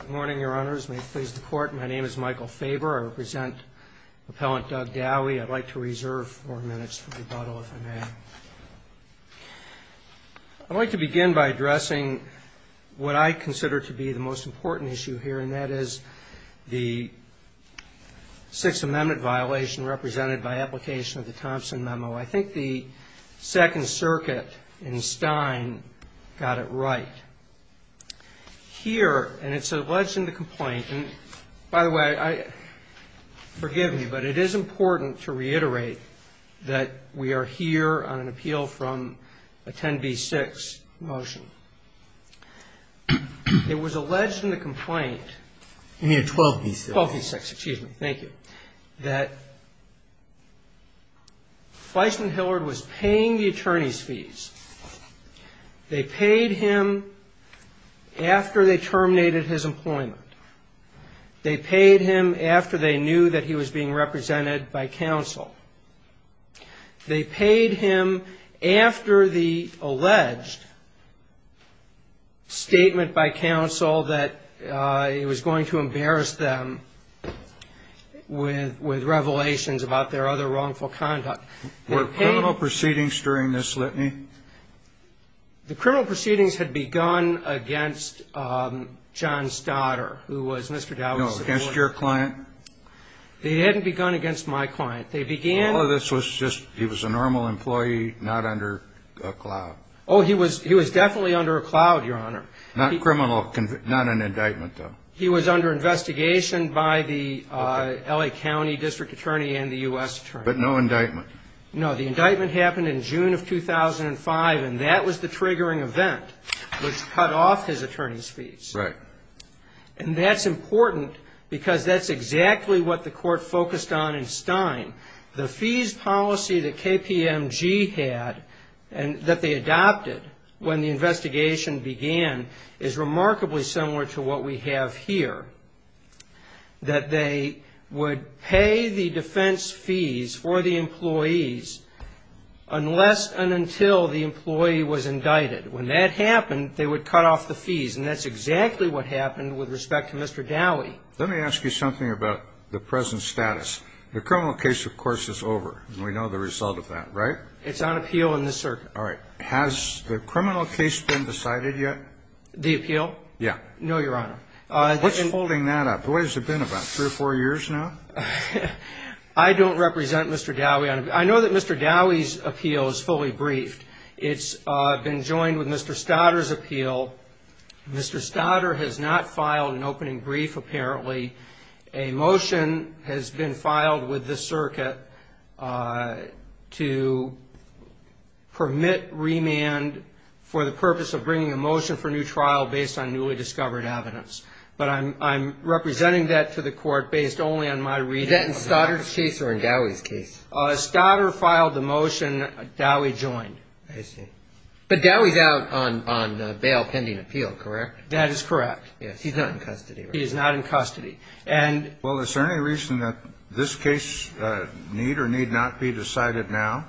Good morning, Your Honors. May it please the Court, my name is Michael Faber. I represent Appellant Doug Dowie. I'd like to reserve four minutes for rebuttal, if I may. I'd like to begin by addressing what I consider to be the most important issue here, and that is the Sixth Amendment violation represented by application of the Thompson Memo. I think the Second Circuit in Stein got it right. Here, and it's alleged in the complaint, and by the way, forgive me, but it is important to reiterate that we are here on an appeal from a 10b-6 motion. It was alleged in the complaint, 12b-6, excuse me, thank you, that Fleishman-Hillard was paying the attorney's fees. They paid him after they terminated his employment. They paid him after they knew that he was being represented by counsel. They paid him after the alleged statement by counsel that it was going to embarrass them with revelations about their other wrongful conduct. Were criminal proceedings during this litany? The criminal proceedings had begun against John Stoddard, who was Mr. Dowie's subordinate. No, against your client? They hadn't begun against my client. They began... Oh, this was just, he was a normal employee, not under a cloud. Oh, he was definitely under a cloud, Your Honor. Not criminal, not an indictment, though. He was under investigation by the L.A. County District Attorney and the U.S. Attorney. But no indictment. No, the indictment happened in June of 2005, and that was the triggering event which cut off his attorney's fees. Right. And that's important because that's exactly what the Court focused on in Stein. The fees policy that KPMG had, that they adopted when the investigation began, is remarkably similar to what we have here, that they would pay the defense fees for the employees unless and until the employee was indicted. When that happened, they would cut off the fees, and that's exactly what happened with respect to Mr. Dowie. Let me ask you something about the present status. The criminal case, of course, is over, and we know the result of that, right? It's on appeal in this circuit. All right. Has the criminal case been decided yet? The appeal? Yeah. No, Your Honor. What's holding that up? What has it been, about three or four years now? I don't represent Mr. Dowie. I know that Mr. Dowie's appeal is fully briefed. It's been joined with Mr. Stoddard's appeal. Mr. Stoddard has not filed an opening brief, apparently. A motion has been filed with this circuit to permit remand for the purpose of bringing a motion for new trial based on newly discovered evidence. But I'm representing that to the court based only on my reading of the motion. Is that in Stoddard's case or in Dowie's case? Stoddard filed the motion. Dowie joined. I see. But Dowie's out on bail pending appeal, correct? That is correct. Yeah. He's not in custody, right? He is not in custody. And… Well, is there any reason that this case need or need not be decided now?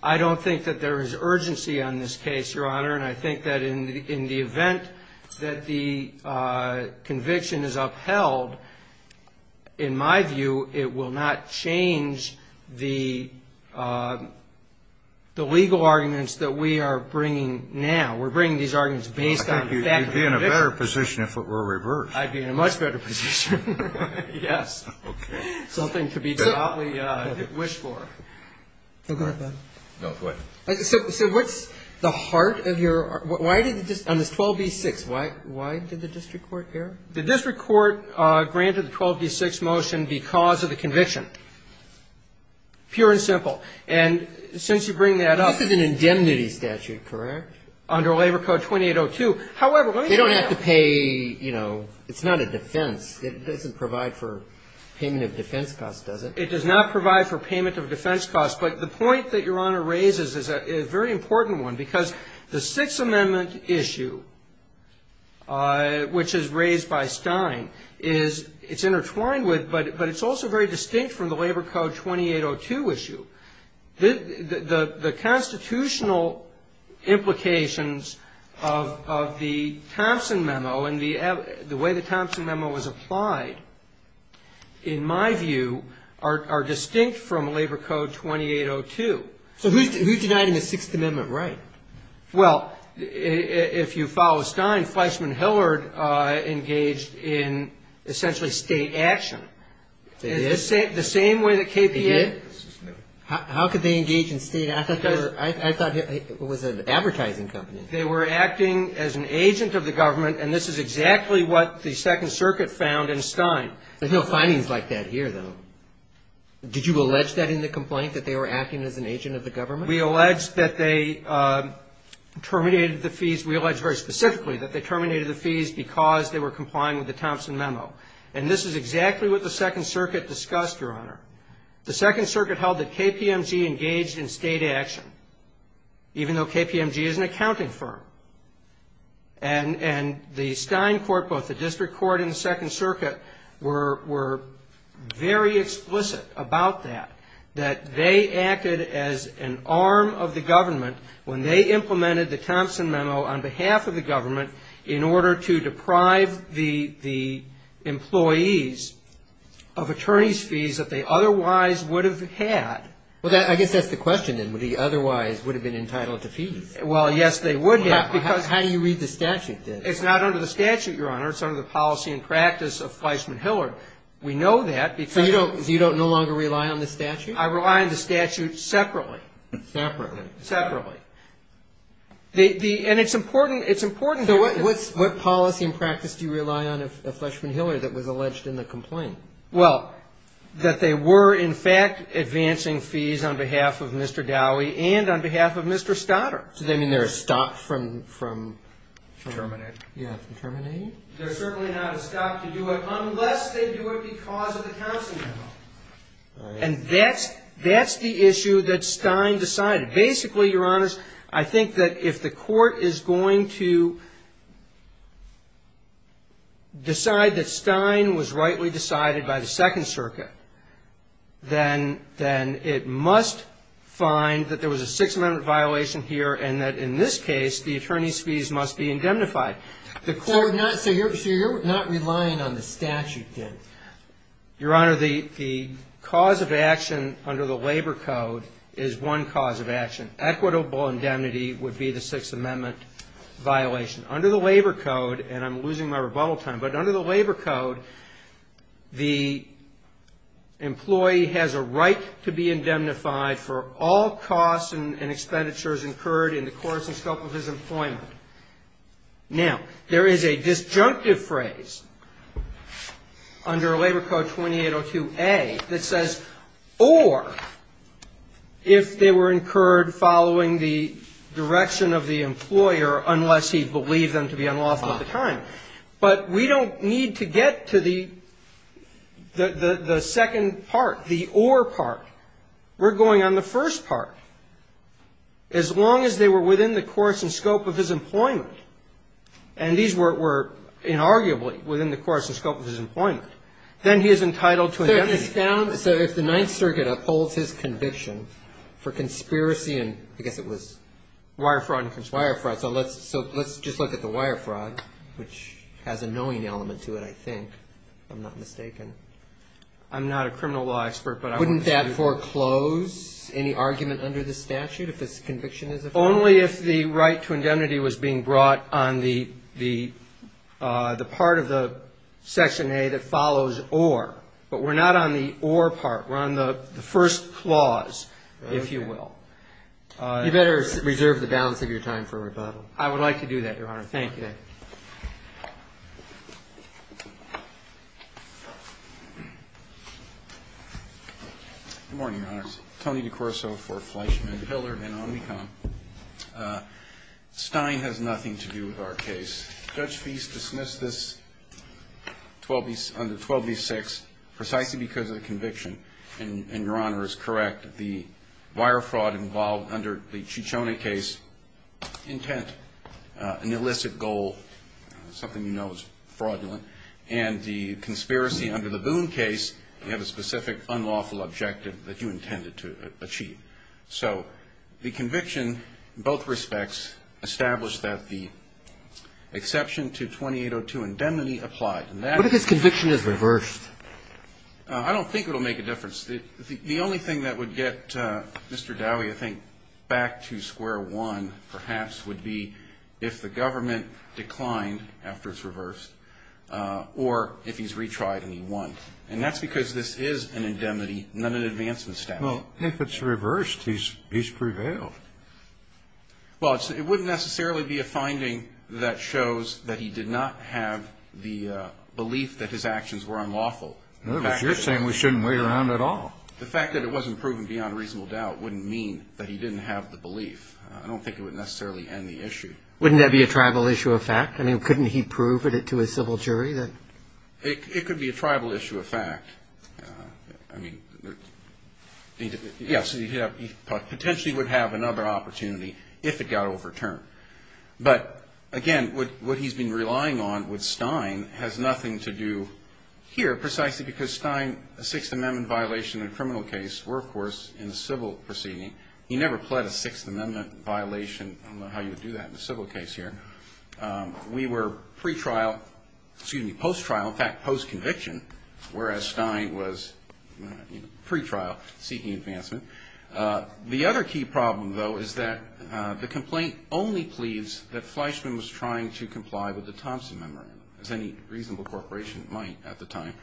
I don't think that there is urgency on this case, Your Honor. And I think that in the event that the conviction is upheld, in my view, it will not change the legal arguments that we are bringing now. We're bringing these arguments based on the fact that the conviction… Well, I think you'd be in a better position if it were reversed. I'd be in a much better position, yes. Okay. Something to be proudly wished for. So what's the heart of your… Why did the district… on this 12b-6, why did the district court err? The district court granted the 12b-6 motion because of the conviction, pure and simple. And since you bring that up… This is an indemnity statute, correct? Under Labor Code 2802. However, let me… They don't have to pay, you know, it's not a defense. It doesn't provide for payment of defense costs, does it? It does not provide for payment of defense costs. But the point that Your Honor raises is a very important one. Because the Sixth Amendment issue, which is raised by Stein, is… it's intertwined with, but it's also very distinct from the Labor Code 2802 issue. The constitutional implications of the Thompson Memo and the way the Thompson Memo was applied, in my view, are distinct from Labor Code 2802. So who's denying the Sixth Amendment right? Well, if you follow Stein, Fleischmann-Hillard engaged in essentially state action. They did? The same way that KPA… They did? How could they engage in state action? I thought it was an advertising company. They were acting as an agent of the government, and this is exactly what the Second Circuit found in Stein. There's no findings like that here, though. Did you allege that in the complaint, that they were acting as an agent of the government? We allege that they terminated the fees. We allege very specifically that they terminated the fees because they were complying with the Thompson Memo. And this is exactly what the Second Circuit discussed, Your Honor. The Second Circuit held that KPMG engaged in state action, even though KPMG is an accounting firm. And the Stein court, both the district court and the Second Circuit, were very explicit about that, that they acted as an arm of the government when they implemented the Thompson Memo on behalf of the government in order to deprive the employees of attorney's fees that they otherwise would have had. Well, I guess that's the question, then. Would he otherwise would have been entitled to fees? Well, yes, they would have. How do you read the statute, then? It's not under the statute, Your Honor. It's under the policy and practice of Fleischmann-Hillard. We know that because… So you don't no longer rely on the statute? I rely on the statute separately. Separately? Separately. And it's important… So what policy and practice do you rely on of Fleischmann-Hillard that was alleged in the complaint? Well, that they were, in fact, advancing fees on behalf of Mr. Dowie and on behalf of Mr. Stotter. So they mean they're stopped from… Terminating. Yeah, from terminating. They're certainly not stopped to do it unless they do it because of the Thompson Memo. All right. And that's the issue that Stein decided. Basically, Your Honors, I think that if the Court is going to decide that Stein was rightly decided by the Second Circuit, then it must find that there was a Sixth Amendment violation here and that in this case the attorney's fees must be indemnified. Your Honor, the cause of action under the Labor Code is one cause of action. Equitable indemnity would be the Sixth Amendment violation. Under the Labor Code, and I'm losing my rebuttal time, but under the Labor Code, the employee has a right to be indemnified for all costs and expenditures incurred in the course and scope of his employment. Now, there is a disjunctive phrase under Labor Code 2802A that says or if they were incurred following the direction of the employer unless he believed them to be unlawful at the time. But we don't need to get to the second part, the or part. We're going on the first part. As long as they were within the course and scope of his employment, and these were inarguably within the course and scope of his employment, then he is entitled to indemnity. So if the Ninth Circuit upholds his conviction for conspiracy and I guess it was wire fraud. Wire fraud. So let's just look at the wire fraud, which has a knowing element to it, I think, if I'm not mistaken. I'm not a criminal law expert, but I want to see. Any argument under the statute if this conviction is a fraud? Only if the right to indemnity was being brought on the part of the Section A that follows or. But we're not on the or part. We're on the first clause, if you will. You better reserve the balance of your time for rebuttal. I would like to do that, Your Honor. Thank you. Good morning, Your Honor. Tony DiCorso for Fleischman Pillar and Omnicom. Stein has nothing to do with our case. Judge Feist dismissed this under 12B6 precisely because of the conviction, and Your Honor is correct. The wire fraud involved under the Ciccione case, intent, an illicit goal, something you know is fraudulent, and the conspiracy under the Boone case, you have a specific unlawful objective that you intended to achieve. So the conviction in both respects established that the exception to 2802 indemnity applied. What if this conviction is reversed? I don't think it will make a difference. The only thing that would get Mr. Dowie, I think, back to square one perhaps would be if the government declined after it's reversed or if he's retried and he won. And that's because this is an indemnity, not an advancement statute. Well, if it's reversed, he's prevailed. Well, it wouldn't necessarily be a finding that shows that he did not have the belief that his actions were unlawful. No, but you're saying we shouldn't wait around at all. The fact that it wasn't proven beyond reasonable doubt wouldn't mean that he didn't have the belief. I don't think it would necessarily end the issue. Wouldn't that be a tribal issue of fact? I mean, couldn't he prove it to a civil jury? It could be a tribal issue of fact. I mean, yes, he potentially would have another opportunity if it got overturned. But, again, what he's been relying on with Stein has nothing to do here precisely because Stein, a Sixth Amendment violation in a criminal case were, of course, in a civil proceeding. He never pled a Sixth Amendment violation. I don't know how you would do that in a civil case here. We were pre-trial, excuse me, post-trial, in fact, post-conviction, whereas Stein was pre-trial seeking advancement. The other key problem, though, is that the complaint only pleads that Fleischman was trying to comply with the Thompson Memorandum, as any reasonable corporation might at the time.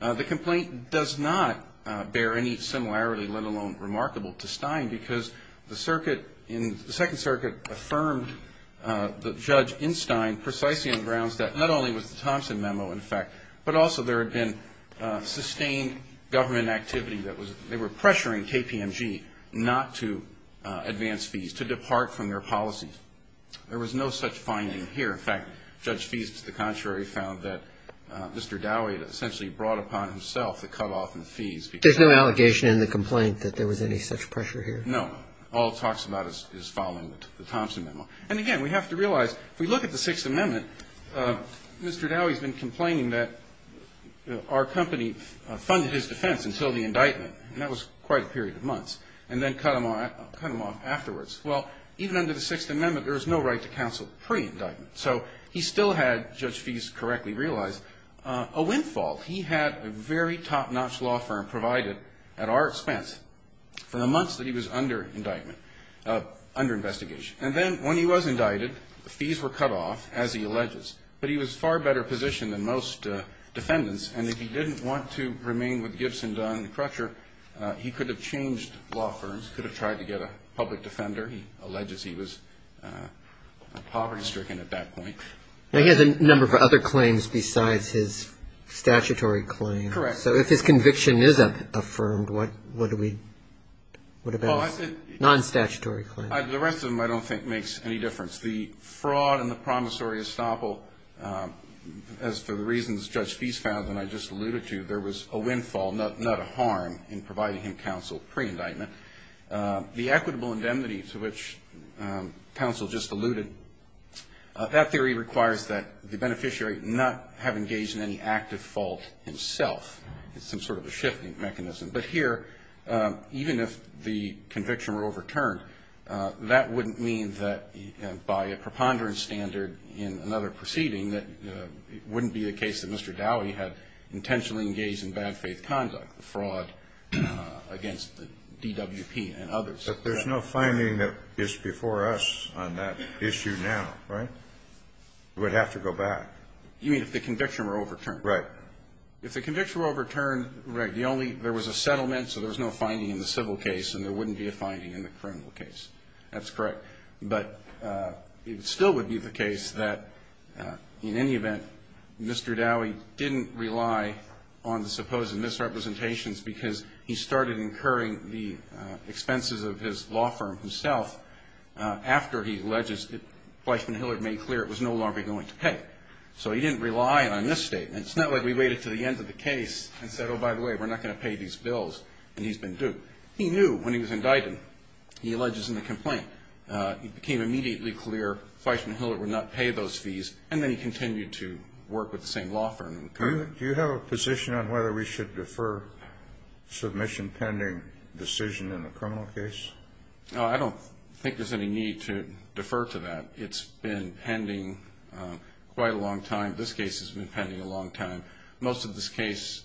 The complaint does not bear any similarity, let alone remarkable, to Stein because the Second Circuit affirmed the judge in Stein precisely on grounds that not only was the Thompson Memo, in fact, but also there had been sustained government activity that was they were pressuring KPMG not to advance fees, to depart from their policies. There was no such finding here. In fact, Judge Feist, to the contrary, found that Mr. Dowey had essentially brought upon himself the cutoff in fees. There's no allegation in the complaint that there was any such pressure here? No. All it talks about is following the Thompson Memo. And again, we have to realize, if we look at the Sixth Amendment, Mr. Dowey's been complaining that our company funded his defense until the indictment, and that was quite a period of months, and then cut him off afterwards. Well, even under the Sixth Amendment, there was no right to counsel pre-indictment. So he still had, Judge Feist correctly realized, a windfall. He had a very top-notch law firm provided at our expense for the months that he was under investigation. And then when he was indicted, the fees were cut off, as he alleges. But he was in a far better position than most defendants, and if he didn't want to remain with Gibson, Dunn, and Crutcher, he could have changed law firms, could have tried to get a public defender. He alleges he was poverty-stricken at that point. Now, he has a number of other claims besides his statutory claim. Correct. So if his conviction is affirmed, what do we, what about his non-statutory claim? The rest of them I don't think makes any difference. The fraud and the promissory estoppel, as for the reasons Judge Feist found and I just alluded to, there was a windfall, not a harm in providing him counsel pre-indictment. The equitable indemnity to which counsel just alluded, that theory requires that the beneficiary not have engaged in any active fault himself. It's some sort of a shifting mechanism. But here, even if the conviction were overturned, that wouldn't mean that by a preponderance standard in another proceeding that it wouldn't be the case that Mr. Dowdy had intentionally engaged in bad faith conduct, the fraud against the DWP and others. But there's no finding that is before us on that issue now, right? It would have to go back. You mean if the conviction were overturned? Right. If the conviction were overturned, right, the only, there was a settlement, so there was no finding in the civil case and there wouldn't be a finding in the criminal case. That's correct. But it still would be the case that in any event, Mr. Dowdy didn't rely on the supposed misrepresentations because he started incurring the expenses of his law firm himself after he alleged that Fleishman Hilliard made clear it was no longer going to pay. So he didn't rely on this statement. It's not like we waited until the end of the case and said, oh, by the way, we're not going to pay these bills, and he's been due. He knew when he was indicted, he alleges in the complaint, it became immediately clear Fleishman Hilliard would not pay those fees, and then he continued to work with the same law firm. Do you have a position on whether we should defer submission pending decision in the criminal case? I don't think there's any need to defer to that. It's been pending quite a long time. This case has been pending a long time. Most of this case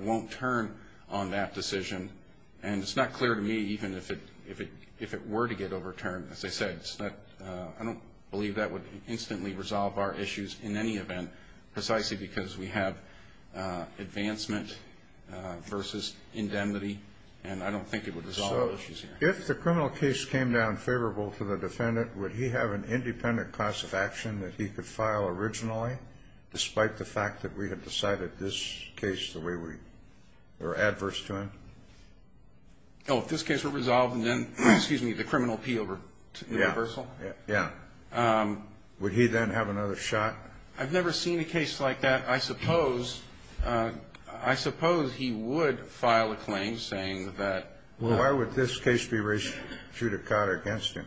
won't turn on that decision, and it's not clear to me even if it were to get overturned. As I said, I don't believe that would instantly resolve our issues in any event precisely because we have advancement versus indemnity, and I don't think it would resolve issues here. So if the criminal case came down favorable to the defendant, would he have an independent class of action that he could file originally, despite the fact that we had decided this case the way we were adverse to him? Oh, if this case were resolved and then, excuse me, the criminal appeal reversal? Yeah. Would he then have another shot? I've never seen a case like that. I suppose he would file a claim saying that. Well, why would this case be reshooted against him?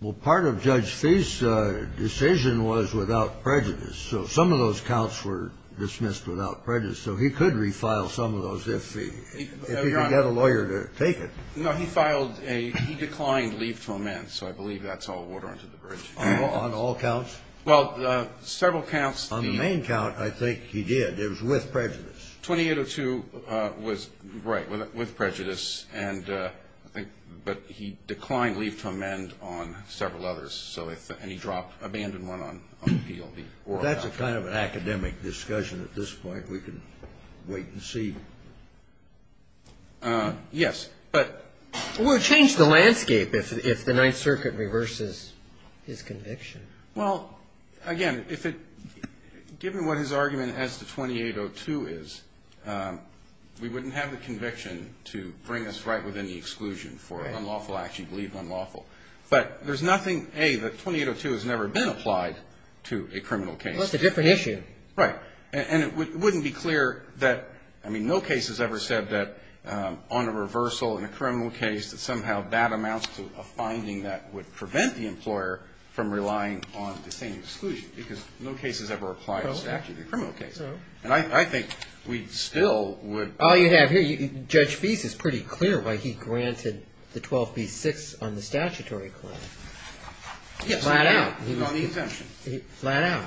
Well, part of Judge Fee's decision was without prejudice. So some of those counts were dismissed without prejudice. So he could refile some of those if he could get a lawyer to take it. No, he filed a he declined leave to amend. So I believe that's all water under the bridge. On all counts? Well, several counts. On the main count, I think he did. It was with prejudice. 2802 was right, with prejudice. And I think he declined leave to amend on several others. And he dropped, abandoned one on appeal. That's a kind of an academic discussion at this point. We can wait and see. Yes. But we would change the landscape if the Ninth Circuit reverses his conviction. Well, again, given what his argument as to 2802 is, we wouldn't have the conviction to bring us right within the exclusion for an unlawful act. You believe unlawful. But there's nothing, A, that 2802 has never been applied to a criminal case. Well, it's a different issue. Right. And it wouldn't be clear that no case has ever said that on a reversal in a criminal case that somehow that amounts to a finding that would prevent the employer from relying on the same exclusion because no case has ever applied a statute in a criminal case. And I think we still would. All you have here, Judge Fease is pretty clear why he granted the 12B-6 on the statutory claim. Flat out. On the exemption. Flat out.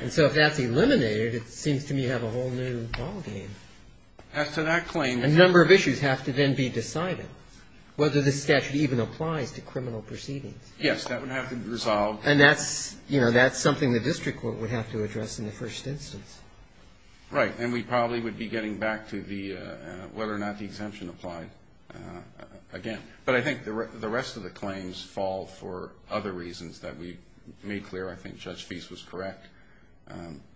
And so if that's eliminated, it seems to me to have a whole new ballgame. As to that claim. A number of issues have to then be decided, whether the statute even applies to criminal proceedings. Yes, that would have to be resolved. And that's, you know, that's something the district court would have to address in the first instance. Right. And we probably would be getting back to whether or not the exemption applied again. But I think the rest of the claims fall for other reasons that we made clear. I think Judge Fease was correct.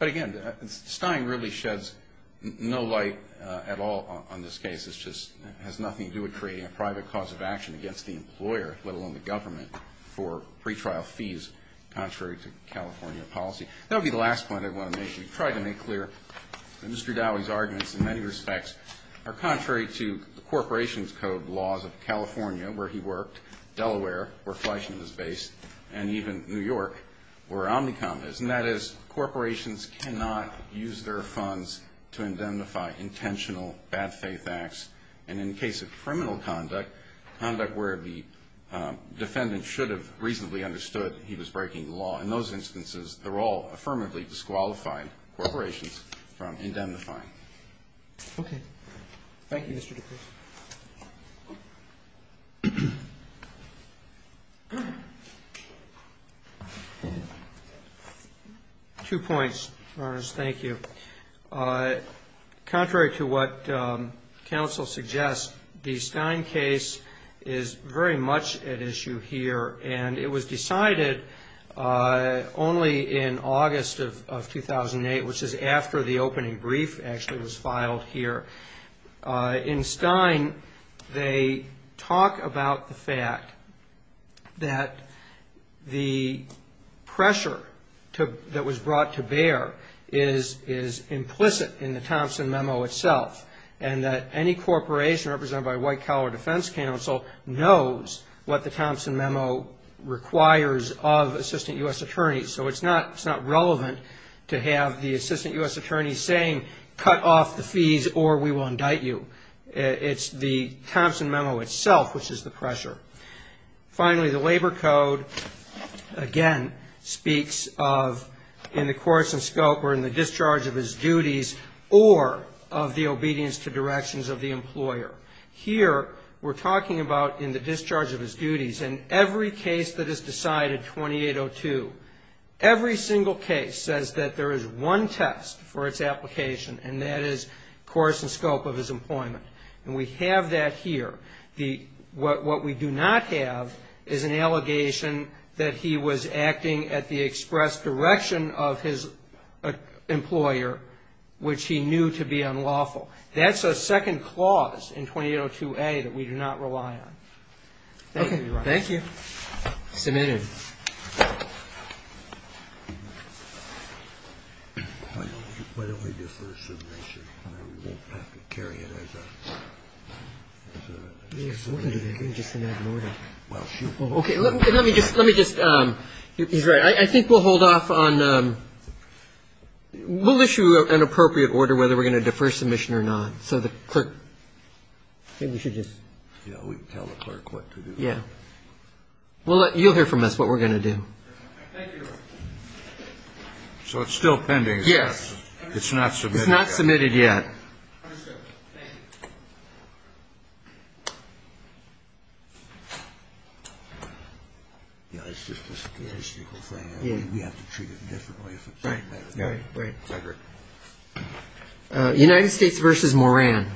But, again, Stein really sheds no light at all on this case. It just has nothing to do with creating a private cause of action against the employer, let alone the government, for pretrial fees contrary to California policy. That would be the last point I want to make. We've tried to make clear that Mr. Dowey's arguments in many respects are contrary to the Corporation's Code laws of California, where he worked, Delaware, where Fleishman is based, and even New York, where Omnicom is. And that is corporations cannot use their funds to indemnify intentional bad-faith acts. And in the case of criminal conduct, conduct where the defendant should have reasonably understood he was breaking the law, in those instances, they're all affirmatively disqualified corporations from indemnifying. Okay. Thank you, Mr. DePriest. Two points, Your Honor. Thank you. Contrary to what counsel suggests, the Stein case is very much at issue here, and it was decided only in August of 2008, which is after the opening brief actually was filed here. In Stein, they talk about the fact that the pressure that was brought to bear is implicit in the Thompson Memo itself, and that any corporation represented by White Collar Defense Counsel knows what the Thompson Memo requires of assistant U.S. attorneys. So it's not relevant to have the assistant U.S. attorney saying, cut off the fees or we will indict you. It's the Thompson Memo itself which is the pressure. Finally, the Labor Code, again, speaks of in the course and scope or in the discharge of his duties or of the obedience to directions of the employer. Here, we're talking about in the discharge of his duties. In every case that is decided, 2802, every single case says that there is one test for its application, and that is course and scope of his employment. And we have that here. What we do not have is an allegation that he was acting at the express direction of his employer, which he knew to be unlawful. That's a second clause in 2802A that we do not rely on. Thank you, Your Honor. Thank you. Submitted. Why don't we defer submission? We won't have to carry it as a case. Well, shoot. Okay. Let me just, let me just. He's right. I think we'll hold off on, we'll issue an appropriate order whether we're going to defer submission or not. So the clerk, maybe we should just. Yeah, we can tell the clerk what to do. Yeah. You'll hear from us what we're going to do. Thank you, Your Honor. So it's still pending. Yes. It's not submitted yet. It's not submitted yet. Understood. Thank you. Thank you. Yeah, it's just a statistical thing. We have to treat it differently. Right, right, right. I agree. United States v. Moran.